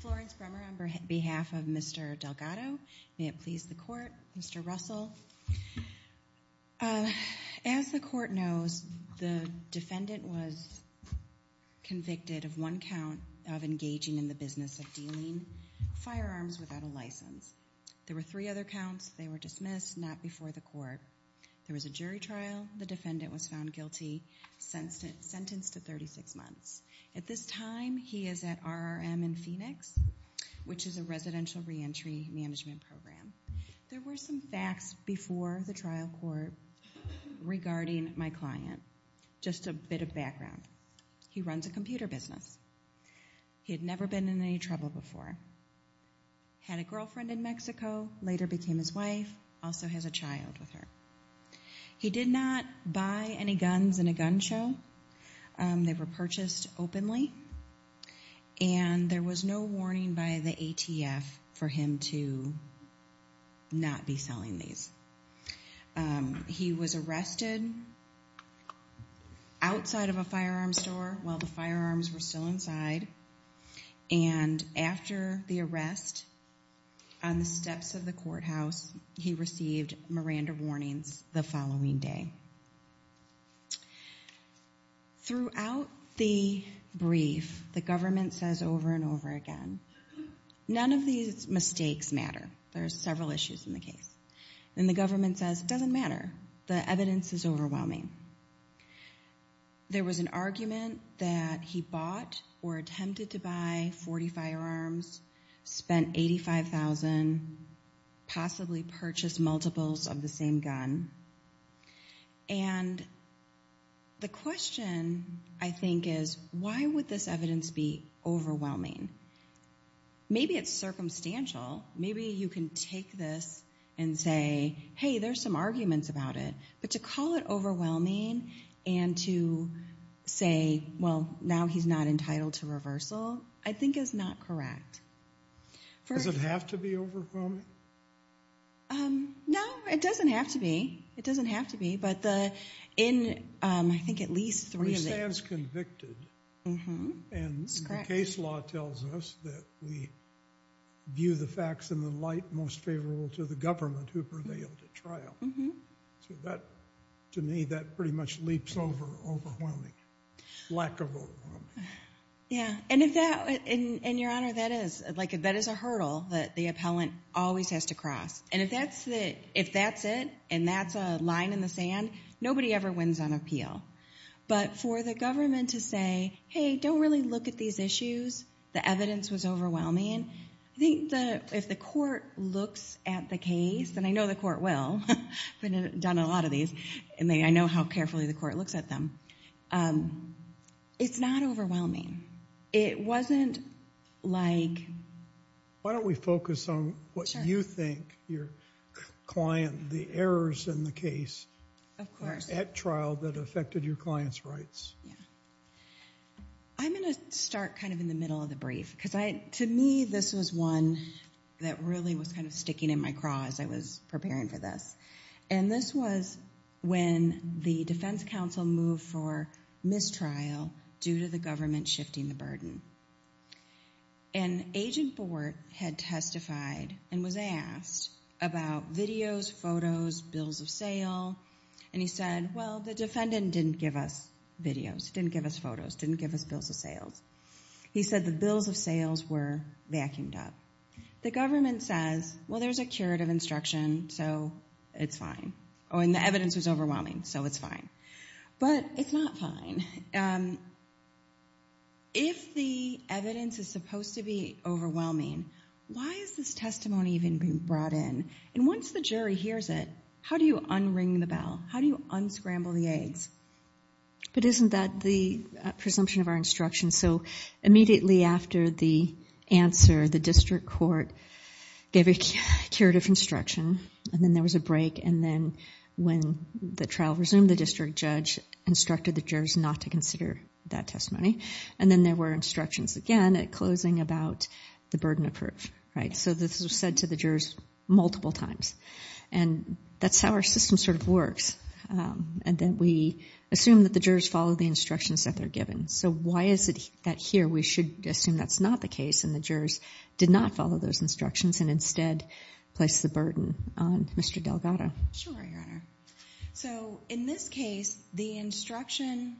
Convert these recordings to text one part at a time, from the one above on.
Florence Bremer on behalf of Mr. Delgado. May it please the court. Mr. Russell. As the court knows, the defendant was convicted of one count of engaging in the business of dealing firearms without a license. There were three other counts. They were dismissed, not before the court. There was a jury trial. The defendant was found in Phoenix, which is a residential reentry management program. There were some facts before the trial court regarding my client. Just a bit of background. He runs a computer business. He had never been in any trouble before. Had a girlfriend in Mexico, later became his wife, also has a child with her. He did not buy any guns in a gun show. They were purchased openly. And there was no warning by the ATF for him to not be selling these. He was arrested outside of a firearm store while the firearms were still inside. And after the arrest, on the steps of the courthouse, he received Miranda warnings the following day. Throughout the brief, the government says over and over again, none of these mistakes matter. There are several issues in the case. And the government says it doesn't matter. The evidence is overwhelming. There was an argument that he bought or attempted to buy 40 firearms, spent $85,000, possibly purchased multiples of the same gun. And the question, I think, is why would this evidence be overwhelming? Maybe it's circumstantial. Maybe you can take this and say, hey, there's some arguments about it. But to call it overwhelming and to say, well, now he's not entitled to reversal, I think is not correct. Does it have to be overwhelming? No, it doesn't have to be. It doesn't have to be. But in, I think, at least three of the- He stands convicted. Mm-hmm. And the case law tells us that we view the facts in the light most favorable to the government who prevailed at trial. So that, to me, that pretty much leaps over overwhelming, lack of overwhelming. Yeah. And if that, and Your Honor, that is, like, that is a hurdle that the appellant always has to cross. And if that's the, if that's it, and that's a line in the sand, nobody ever wins on appeal. But for the government to say, hey, don't really look at these issues, the evidence was overwhelming, I think the, if the court looks at the case, and I know the court will, I've done a lot of these, and I know how carefully the court looks at them, it's not overwhelming. It wasn't like- Why don't we focus on what you think your client, the errors in the case- Of course. At trial that affected your client's rights. Yeah. I'm going to start kind of in the middle of the brief, because I, to me, this was one that really was kind of sticking in my craw as I was preparing for this. And this was when the defense counsel moved for mistrial due to the government shifting the burden. And Agent Bort had testified and was asked about videos, photos, bills of sale, and he said, well, the defendant didn't give us videos, didn't give us photos, didn't give us bills of sales. He said the bills of sales were vacuumed up. The government says, well, there's a curative instruction, so it's fine. Oh, and the evidence was overwhelming, so it's fine. But it's not fine. If the evidence is supposed to be overwhelming, why is this testimony even being brought in? And once the jury hears it, how do you unring the bell? How do you unscramble the eggs? But isn't that the presumption of our instruction? So immediately after the answer, the district court gave a curative instruction, and then there was a break, and then when the trial resumed, the district judge instructed the jurors not to consider that testimony. And then there were instructions again at closing about the burden of proof. So this was said to the jurors multiple times. And that's how our system sort of works. And then we assume that the jurors follow the instructions that they're given. So why is it that here we should assume that's not the case and the jurors did not follow those instructions and instead place the burden on Mr. Delgado? Sure, Your Honor. So in this case, the instruction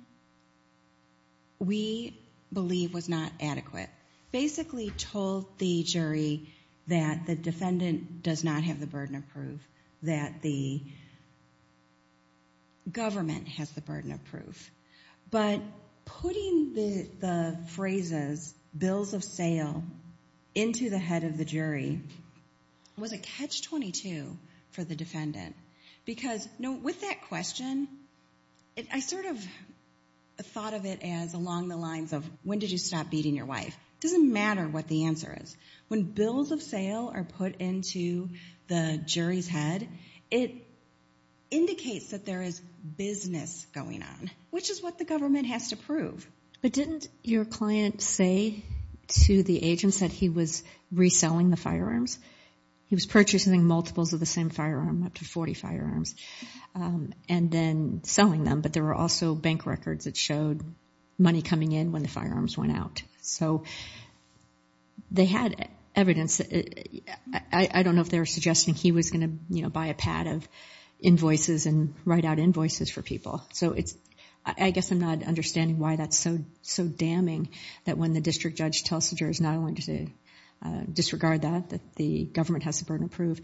we believe was not adequate. Basically told the jury that the defendant does not have the burden of proof, that the government has the burden of proof. But putting the phrases, bills of sale, into the head of the jury was a catch-22 for the defendant. Because with that question, I sort of thought of it as along the lines of, when did you stop beating your wife? Doesn't matter what the answer is. When bills of sale are put into the jury's head, it indicates that there is business going on, which is what the government has to prove. But didn't your client say to the agents that he was reselling the firearms? He was purchasing multiples of the same firearm, up to 40 firearms, and then selling them. But there were also they had evidence. I don't know if they were suggesting he was going to buy a pad of invoices and write out invoices for people. So I guess I'm not understanding why that's so damning that when the district judge tells the jurors not only to disregard that, that the government has the burden of proof,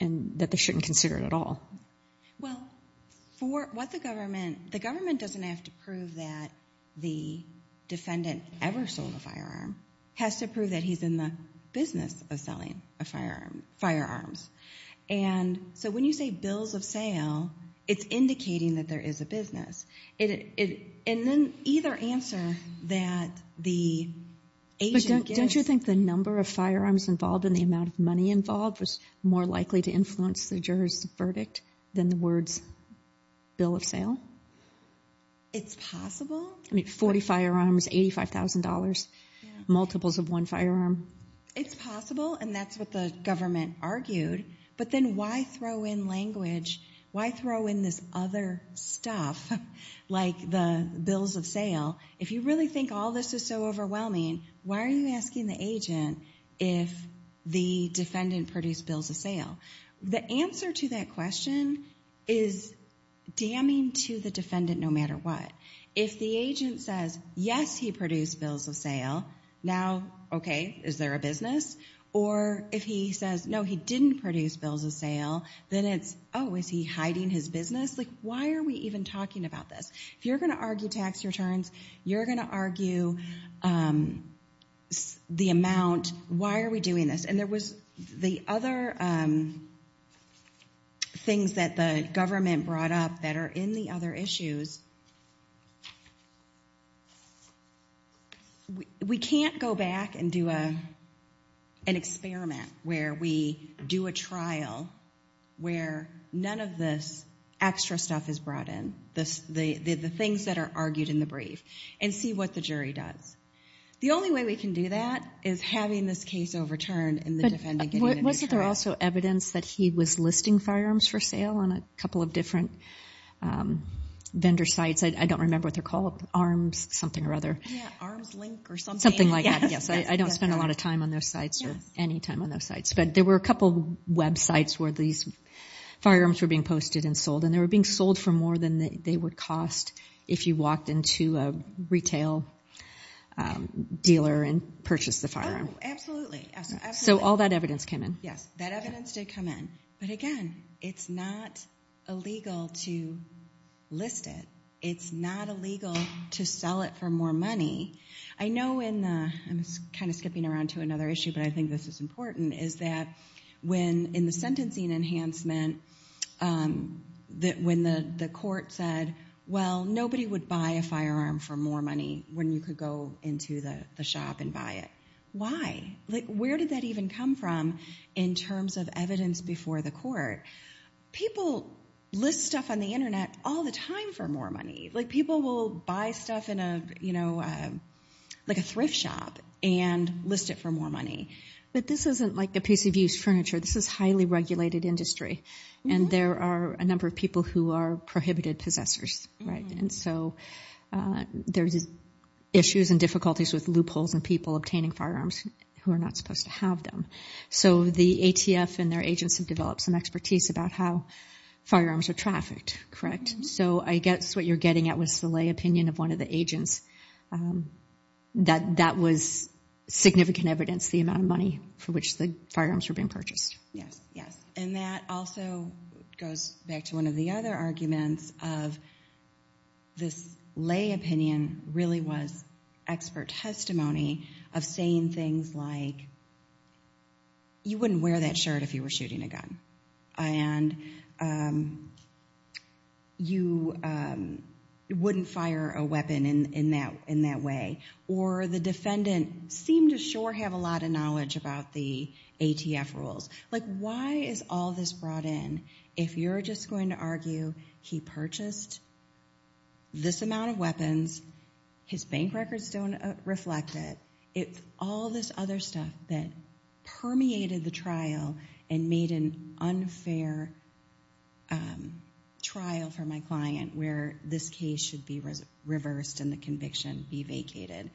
and that they shouldn't consider it at all. Well, for what the government, the government doesn't have to prove that the defendant ever sold a firearm. It has to prove that he's in the business of selling a firearm, firearms. And so when you say bills of sale, it's indicating that there is a business. And then either answer that the agent gives... But don't you think the number of firearms involved and the amount of money involved was more likely to influence the jurors' verdict than the words bill of sale? It's possible. I mean, 40 firearms, $85,000, multiples of one firearm. It's possible, and that's what the government argued. But then why throw in language? Why throw in this other stuff like the bills of sale? If you really think all this is so overwhelming, why are you asking the agent if the defendant produced bills of sale? The answer to that is if the agent says, yes, he produced bills of sale, now, okay, is there a business? Or if he says, no, he didn't produce bills of sale, then it's, oh, is he hiding his business? Like, why are we even talking about this? If you're going to argue tax returns, you're going to argue the amount, why are we doing this? And there was the other things that the government brought up that are in the other issues. We can't go back and do an experiment where we do a trial where none of this extra stuff is brought in, the things that are argued in the brief, and see what the jury does. The only way we can do that is having this case overturned and the defendant getting a new trial. Was there also evidence that he was listing firearms for sale on a couple of different vendor sites? I don't remember what they're called, Arms something or other. Yeah, Arms Link or something. Something like that, yes. I don't spend a lot of time on those sites or any time on those sites, but there were a couple of websites where these firearms were being posted and sold, and they were being sold for more than they would cost if you walked into a retail dealer and purchased the firearm. Oh, absolutely. So all that evidence came in. Yes, that evidence did come in. But again, it's not illegal to list it. It's not illegal to sell it for more money. I know in the, I'm kind of skipping around to another issue, but I think this is important, is that when in the sentencing enhancement, when the court said, well, nobody would buy a firearm for more money when you could go into the shop and buy it, why? Where did that even come from in terms of evidence before the court? People list stuff on the internet all the time for more money. People will buy stuff in a thrift shop and list it for more money. But this isn't like a piece of used furniture. This is highly regulated industry, and there are a number of people who are prohibited possessors. And so there's issues and difficulties with loopholes and people obtaining firearms who are not supposed to have them. So the ATF and their agents have developed some expertise about how firearms are trafficked, correct? So I guess what you're getting at was the lay opinion of one of the agents that that was significant evidence, the amount of money for which the firearms were being purchased. Yes, yes. And that also goes back to one of the other arguments of this lay opinion really was expert testimony of saying things like, you wouldn't wear that shirt if you were shooting a gun. And you wouldn't fire a weapon in that way. Or the defendant seemed to sure have a lot of knowledge about the ATF rules. Like, why is all this brought in if you're just going to argue he purchased this amount of weapons, his bank records don't reflect it. It's all this other stuff that permeated the trial and made an unfair trial for my client where this case should be reversed and the conviction be vacated.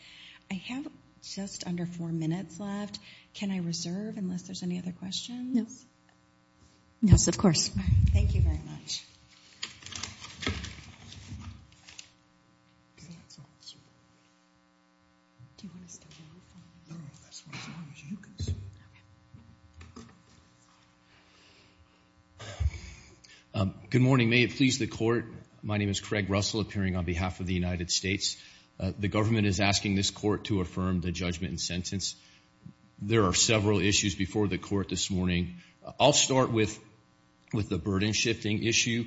I have just under four minutes left. Can I reserve unless there's any other questions? Yes. Yes, of course. Thank you very much. Good morning. May it please the court. My name is Craig Russell appearing on behalf of the United States. The government is asking this court to affirm the judgment and sentence. There are several issues before the court this morning. I'll start with the burden shifting issue.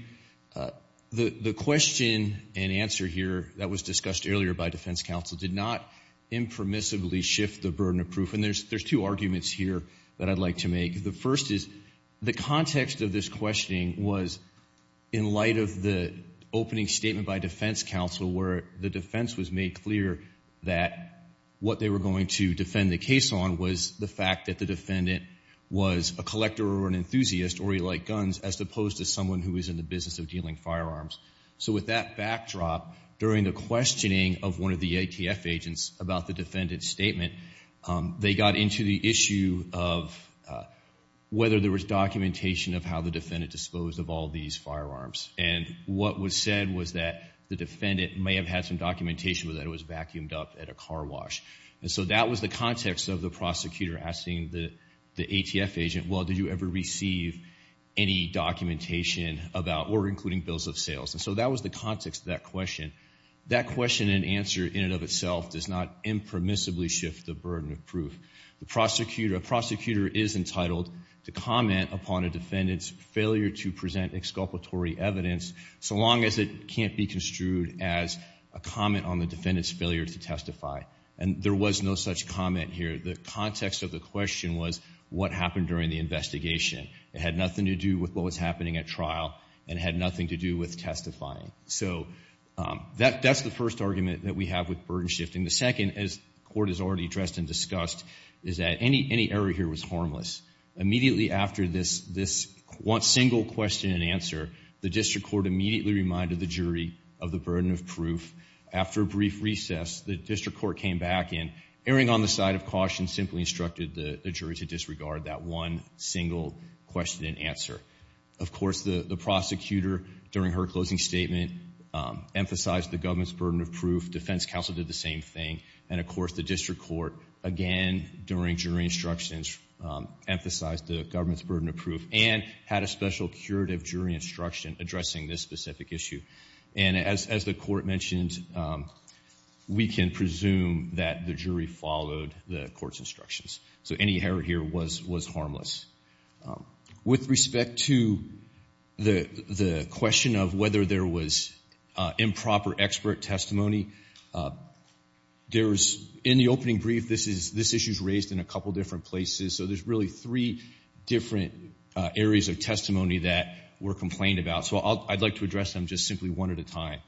The question and answer here that was discussed earlier by defense counsel did not impermissibly shift the burden of proof. And there's two arguments here that I'd like to make. The first is the context of this questioning was in light of the opening statement by defense counsel where the defense was made clear that what they were going to defend the case on was the fact that the defendant was a collector or an enthusiast or he liked guns as opposed to someone who is in the business of dealing firearms. So with that backdrop, during the questioning of one of the ATF agents about the defendant's statement, they got into the issue of whether there was documentation of how the defendant disposed of all these firearms. And what was said was that the defendant may have had some documentation that it was vacuumed up at a car wash. And so that was the context of the prosecutor asking the ATF agent, well, did you ever receive any documentation about or including bills of sales? And so that was the context of that question. That question and answer in and of itself does not impermissibly shift the burden of proof. A prosecutor is entitled to comment upon a defendant's failure to present exculpatory evidence so long as it can't be construed as a comment on the defendant's failure to testify. And there was no such comment here. The context of the question was what happened during the investigation. It had nothing to do with what was happening at trial and had nothing to do with testifying. So that's the first argument that we have with burden shifting. The second, as the Court has already addressed and discussed, is that any error here was harmless. Immediately after this one single question and answer, the district court immediately reminded the jury of the burden of proof. After a brief recess, the district court came back and, erring on the side of caution, simply instructed the jury to disregard that one single question and answer. Of course, the prosecutor, during her closing statement, emphasized the government's burden of proof. Defense counsel did the same thing. And, of course, the district court, again, during jury instructions, emphasized the government's burden of proof and had a special curative jury instruction addressing this specific issue. And as the Court mentioned, we can presume that the jury followed the Court's instructions. So any error here was harmless. With respect to the question of whether there was improper expert testimony, in the opening brief, this issue is raised in a couple different places. So there's really three different areas of testimony that were complained about. So I'd like to address them just simply one at a time.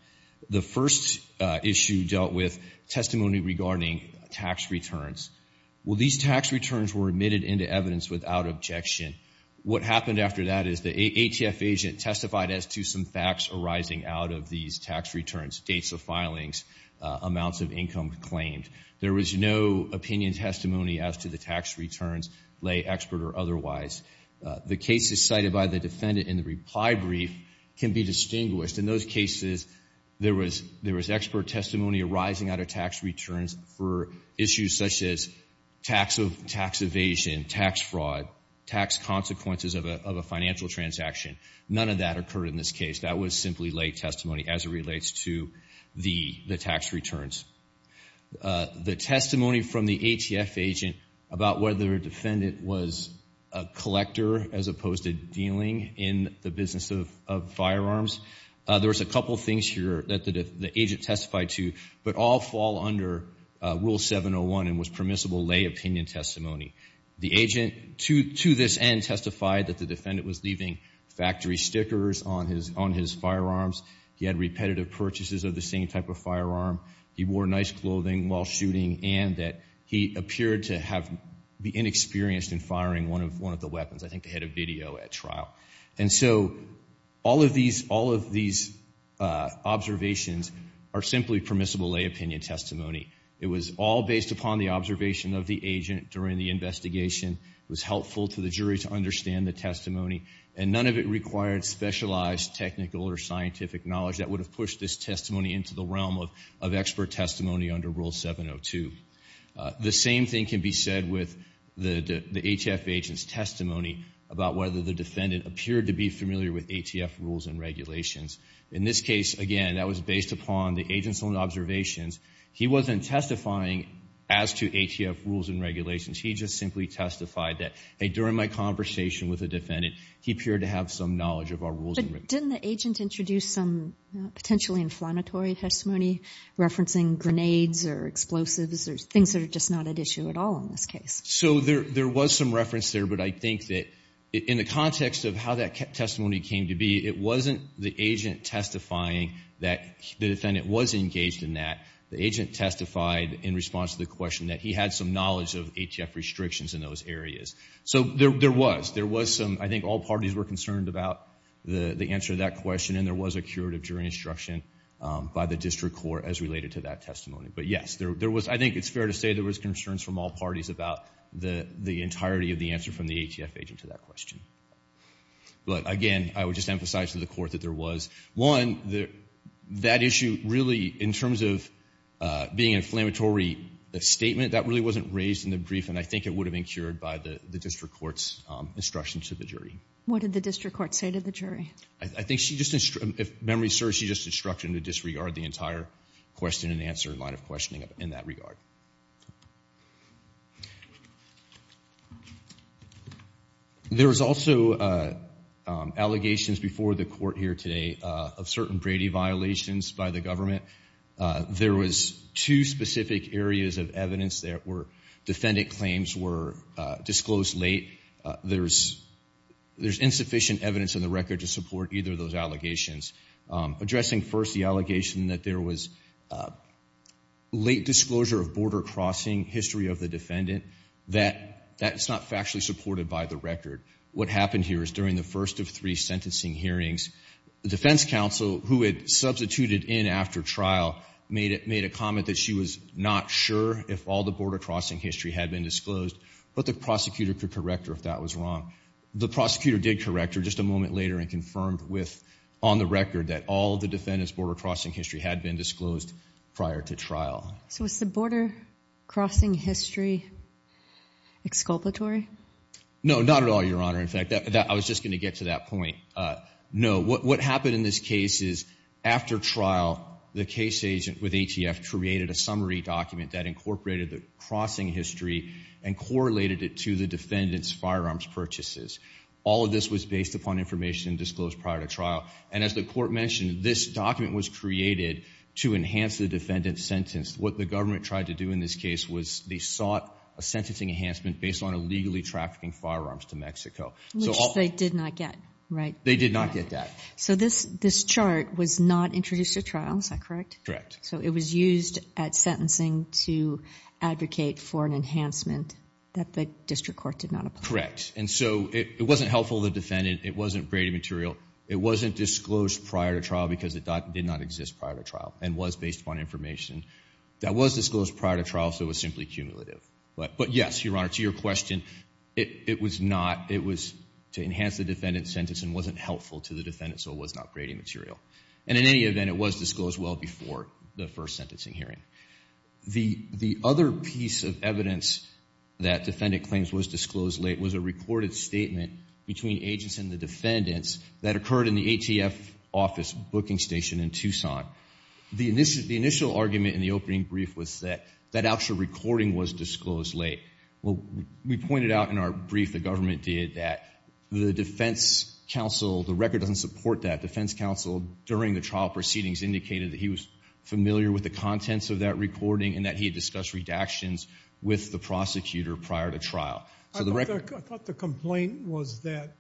The first issue dealt with testimony regarding tax returns. Well, these tax returns were admitted into evidence without objection. What happened after that is the ATF agent testified as to some facts arising out of these tax returns, dates of filings, amounts of income claimed. There was no opinion testimony as to the tax returns, lay, expert, or otherwise. The cases cited by the defendant in the reply brief can be distinguished. In those cases, there was expert testimony arising out of tax returns for issues such as tax evasion, tax fraud, tax consequences of a financial transaction. None of that occurred in this case. That was simply lay testimony as it relates to the tax returns. The testimony from the ATF agent about whether a defendant was a collector as opposed to dealing in the business of firearms, there was a couple things here that the agent testified to, but all fall under Rule 701 and was permissible lay opinion testimony. The agent, to this end, testified that the defendant was leaving factory stickers on his firearms. He had repetitive purchases of the same type of firearm. He wore nice clothing while shooting, and that he appeared to have been inexperienced in firing one of the weapons. I think they had a video at trial. And so all of these observations are simply permissible lay opinion testimony. It was all based upon the observation of the agent during the investigation. It was helpful for the jury to understand the testimony, and none of it required specialized technical or scientific knowledge that would have pushed this testimony into the realm of expert testimony under Rule 702. The same thing can be said with the ATF agent's testimony about whether the defendant appeared to be familiar with ATF rules and regulations. In this case, again, that was based upon the agent's own observations. He wasn't testifying as to ATF rules and regulations. He just simply testified that, hey, during my conversation with the defendant, he appeared to have some knowledge of our rules and regulations. Didn't the agent introduce some potentially inflammatory testimony, referencing grenades or explosives or things that are just not at issue at all in this case? So there was some reference there, but I think that in the context of how that testimony came to be, it wasn't the agent testifying that the defendant was engaged in that. The agent testified in response to the question that he had some knowledge of ATF restrictions in those areas. So there was. There was some, I think all parties were concerned about the answer to that question, and there was a curative jury instruction by the district court as related to that testimony. But, yes, I think it's fair to say there was concerns from all parties about the entirety of the answer from the ATF agent to that question. But, again, I would just emphasize to the court that there was. One, that issue really, in terms of being an inflammatory statement, that really wasn't raised in the brief, and I think it would have been cured by the district court's instruction to the jury. What did the district court say to the jury? I think she just, if memory serves, she just instructed them to disregard the entire question and answer line of questioning in that regard. There was also allegations before the court here today of certain Brady violations by the government. There was two specific areas of evidence that were, defendant claims were disclosed late. There's insufficient evidence in the record to support either of those allegations. Addressing first the allegation that there was late disclosure of border crossing, history of the defendant, that's not factually supported by the record. What happened here is during the first of three sentencing hearings, the defense counsel, who had substituted in after trial, made a comment that she was not sure if all the border crossing history had been disclosed, but the prosecutor could correct her if that was wrong. The prosecutor did correct her just a moment later and confirmed with, on the record, that all the defendant's border crossing history had been disclosed prior to trial. So was the border crossing history exculpatory? No, not at all, Your Honor. In fact, I was just going to get to that point. No. What happened in this case is after trial, the case agent with ATF created a summary document that incorporated the crossing history and correlated it to the defendant's firearms purchases. All of this was based upon information disclosed prior to trial. And as the court mentioned, this document was created to enhance the defendant's sentence. What the government tried to do in this case was they sought a sentencing enhancement based on illegally trafficking firearms to Mexico. Which they did not get, right? They did not get that. So this chart was not introduced at trial, is that correct? Correct. So it was used at sentencing to advocate for an enhancement that the district court did not apply. Correct. And so it wasn't helpful to the defendant. It wasn't graded material. It wasn't disclosed prior to trial because it did not exist prior to trial and was based upon information that was disclosed prior to trial, so it was simply cumulative. But yes, Your Honor, to your question, it was not, it was to enhance the defendant's sentence and wasn't helpful to the defendant, so it was not graded material. And in any event, it was disclosed well before the first sentencing hearing. The other piece of evidence that defendant claims was disclosed late was a recorded statement between agents and the defendants that occurred in the ATF office booking station in Tucson. The initial argument in the opening brief was that that actual recording was disclosed late. Well, we pointed out in our brief the government did that the defense counsel, the record doesn't support that. Defense counsel during the trial proceedings indicated that he was familiar with the contents of that recording and that he had discussed redactions with the prosecutor prior to trial. I thought the complaint was that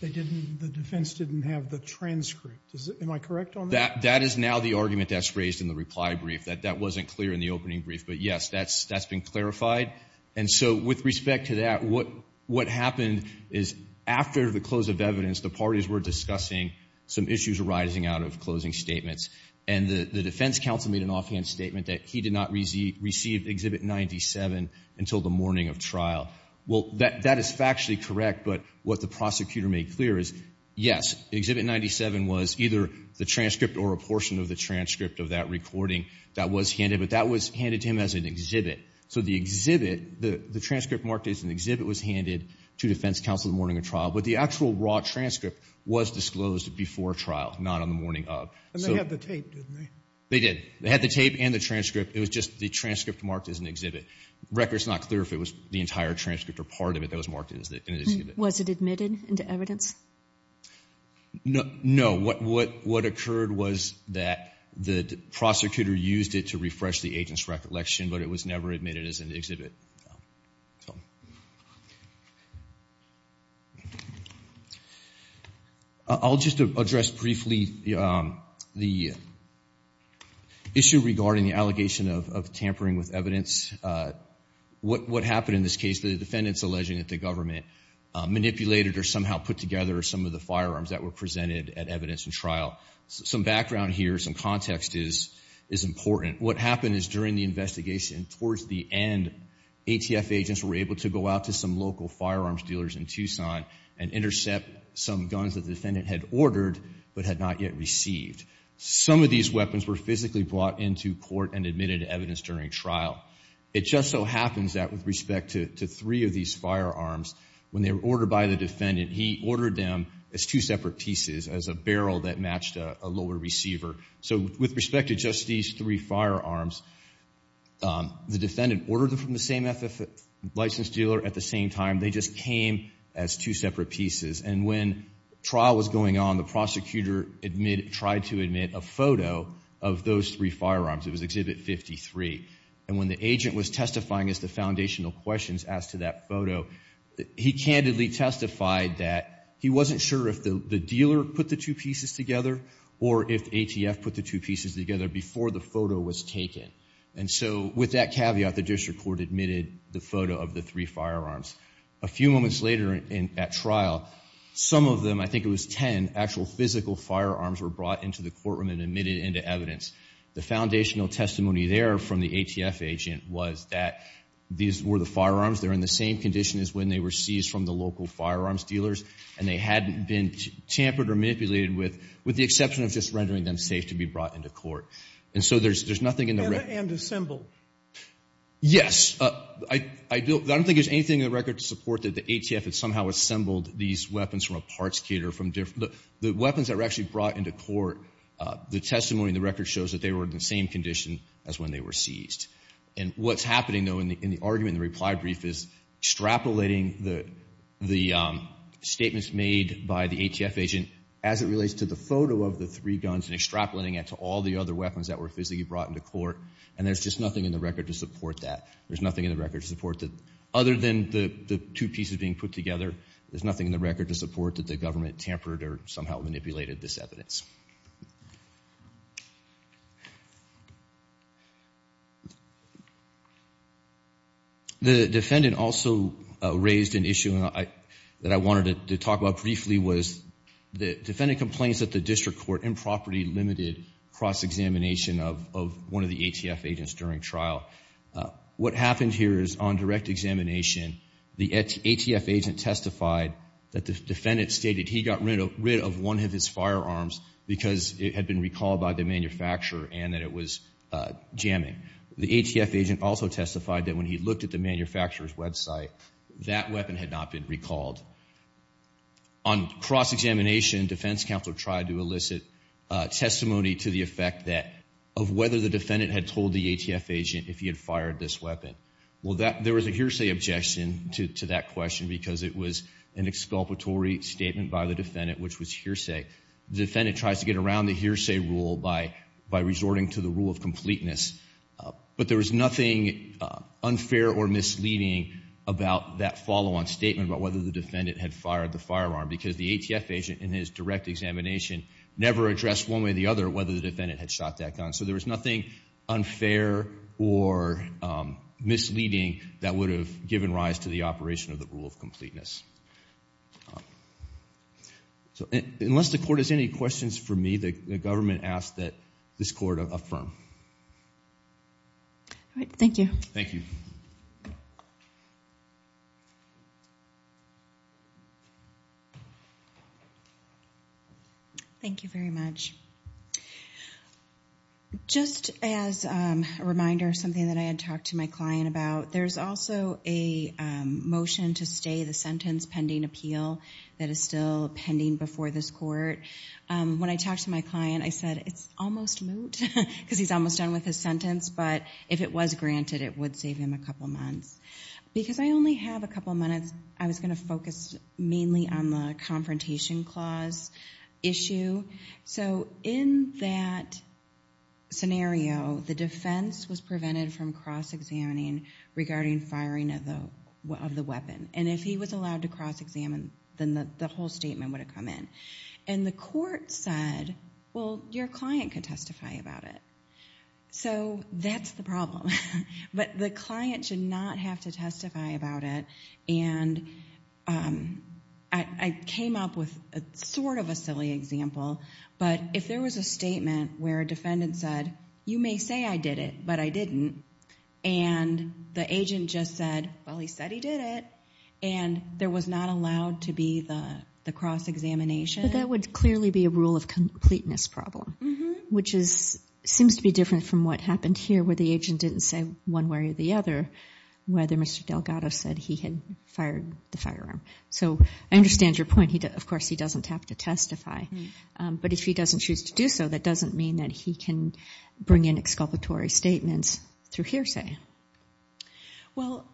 the defense didn't have the transcript. Am I correct on that? That is now the argument that's raised in the reply brief, that that wasn't clear in the opening brief. But yes, that's been clarified. And so with respect to that, what happened is after the close of evidence, the parties were discussing some issues arising out of closing statements, and the defense counsel made an offhand statement that he did not receive Exhibit 97 until the morning of trial. Well, that is factually correct, but what the prosecutor made clear is, yes, Exhibit 97 was either the transcript or a portion of the transcript of that recording that was handed, but that was handed to him as an exhibit. So the exhibit, the transcript marked as an exhibit, was handed to defense counsel the morning of trial. But the actual raw transcript was disclosed before trial, not on the morning of. And they had the tape, didn't they? They did. They had the tape and the transcript. It was just the transcript marked as an exhibit. The record is not clear if it was the entire transcript or part of it that was marked as an exhibit. Was it admitted into evidence? No. What occurred was that the prosecutor used it to refresh the agent's recollection, but it was never admitted as an exhibit. I'll just address briefly the issue regarding the allegation of tampering with evidence. What happened in this case, the defendant's alleging that the government manipulated or somehow put together some of the firearms that were presented at evidence in trial. Some background here, some context is important. What happened is during the investigation, towards the end, ATF agents were able to go out to some local firearms dealers in Tucson and intercept some guns that the defendant had ordered but had not yet received. Some of these weapons were physically brought into court and admitted to evidence during trial. It just so happens that with respect to three of these firearms, when they were ordered by the defendant, he ordered them as two separate pieces, as a barrel that matched a lower receiver. So with respect to just these three firearms, the defendant ordered them from the same FF license dealer. At the same time, they just came as two separate pieces. And when trial was going on, the prosecutor tried to admit a photo of those three firearms. It was Exhibit 53. And when the agent was testifying as the foundational questions asked to that photo, he candidly testified that he wasn't sure if the dealer put the two pieces together or if ATF put the two pieces together before the photo was taken. And so with that caveat, the district court admitted the photo of the three firearms. A few moments later at trial, some of them, I think it was ten, actual physical firearms were brought into the courtroom and admitted into evidence. The foundational testimony there from the ATF agent was that these were the firearms. They're in the same condition as when they were seized from the local firearms dealers, and they hadn't been tampered or manipulated with, with the exception of just rendering them safe to be brought into court. And so there's nothing in the record. And assembled. Yes. I don't think there's anything in the record to support that the ATF had somehow assembled these weapons from a parts caterer. The weapons that were actually brought into court, the testimony in the record shows that they were in the same condition as when they were seized. And what's happening, though, in the argument in the reply brief is extrapolating the statements made by the ATF agent as it relates to the photo of the three guns and extrapolating it to all the other weapons that were physically brought into court. And there's just nothing in the record to support that. There's nothing in the record to support that. Other than the two pieces being put together, there's nothing in the record to support that the government tampered or somehow manipulated this evidence. The defendant also raised an issue that I wanted to talk about briefly was the defendant complains that the district court improperly limited cross-examination of one of the ATF agents during trial. What happened here is on direct examination, the ATF agent testified that the defendant stated he got rid of one of his firearms because it had been recalled by the manufacturer and that it was jamming. The ATF agent also testified that when he looked at the manufacturer's website, that weapon had not been recalled. On cross-examination, defense counsel tried to elicit testimony to the effect that of whether the defendant had told the ATF agent if he had fired this weapon. Well, there was a hearsay objection to that question because it was an exculpatory statement by the defendant, which was hearsay. The defendant tries to get around the hearsay rule by resorting to the rule of completeness. But there was nothing unfair or misleading about that follow-on statement about whether the defendant had fired the firearm because the ATF agent, in his direct examination, never addressed one way or the other whether the defendant had shot that gun. So there was nothing unfair or misleading that would have given rise to the operation of the rule of completeness. So unless the court has any questions for me, the government asks that this court affirm. All right. Thank you. Thank you. Thank you very much. Just as a reminder of something that I had talked to my client about, there's also a motion to stay the sentence pending appeal that is still pending before this court. When I talked to my client, I said, it's almost moot because he's almost done with his sentence, but if it was granted, it would save him a couple months. Because I only have a couple minutes, I was going to focus mainly on the confrontation clause issue. So in that scenario, the defense was prevented from cross-examining regarding firing of the weapon. And if he was allowed to cross-examine, then the whole statement would have come in. And the court said, well, your client could testify about it. So that's the problem. But the client should not have to testify about it. And I came up with sort of a silly example, but if there was a statement where a defendant said, you may say I did it, but I didn't, and the agent just said, well, he said he did it, and there was not allowed to be the cross-examination. But that would clearly be a rule of completeness problem, which seems to be different from what happened here where the agent didn't say one way or the other, whether Mr. Delgado said he had fired the firearm. So I understand your point. Of course, he doesn't have to testify. But if he doesn't choose to do so, that doesn't mean that he can bring in exculpatory statements through hearsay. Well,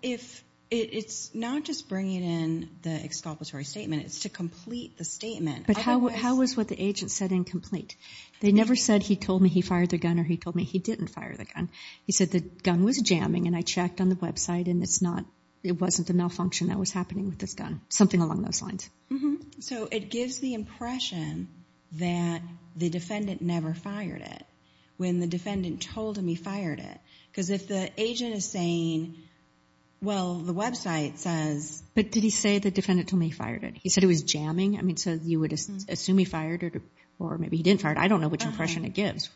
it's not just bringing in the exculpatory statement. It's to complete the statement. But how was what the agent said incomplete? They never said he told me he fired the gun or he told me he didn't fire the gun. He said the gun was jamming, and I checked on the website, and it wasn't a malfunction that was happening with this gun, something along those lines. So it gives the impression that the defendant never fired it when the defendant told him he fired it. Because if the agent is saying, well, the website says— But did he say the defendant told him he fired it? He said it was jamming? I mean, so you would assume he fired it or maybe he didn't fire it. I don't know which impression it gives.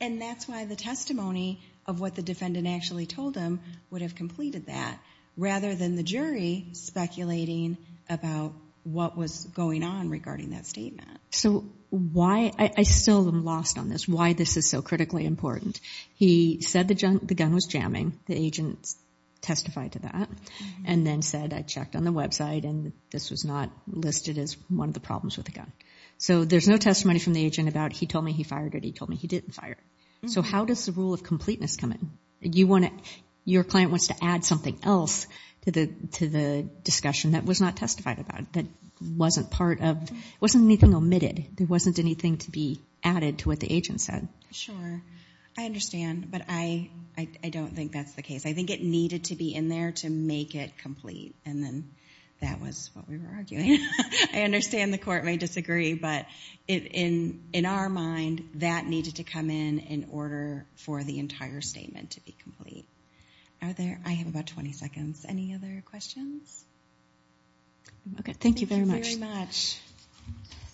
And that's why the testimony of what the defendant actually told him would have completed that, rather than the jury speculating about what was going on regarding that statement. So why—I still am lost on this—why this is so critically important. He said the gun was jamming. The agent testified to that and then said, I checked on the website, and this was not listed as one of the problems with the gun. So there's no testimony from the agent about he told me he fired it or he told me he didn't fire it. So how does the rule of completeness come in? Your client wants to add something else to the discussion that was not testified about, that wasn't part of—it wasn't anything omitted. There wasn't anything to be added to what the agent said. Sure. I understand, but I don't think that's the case. I think it needed to be in there to make it complete, and then that was what we were arguing. I understand the Court may disagree, but in our mind, that needed to come in in order for the entire statement to be complete. Are there—I have about 20 seconds. Any other questions? Okay, thank you very much. Thank you very much.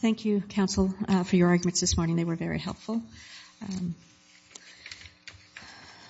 Thank you, counsel, for your arguments this morning. They were very helpful.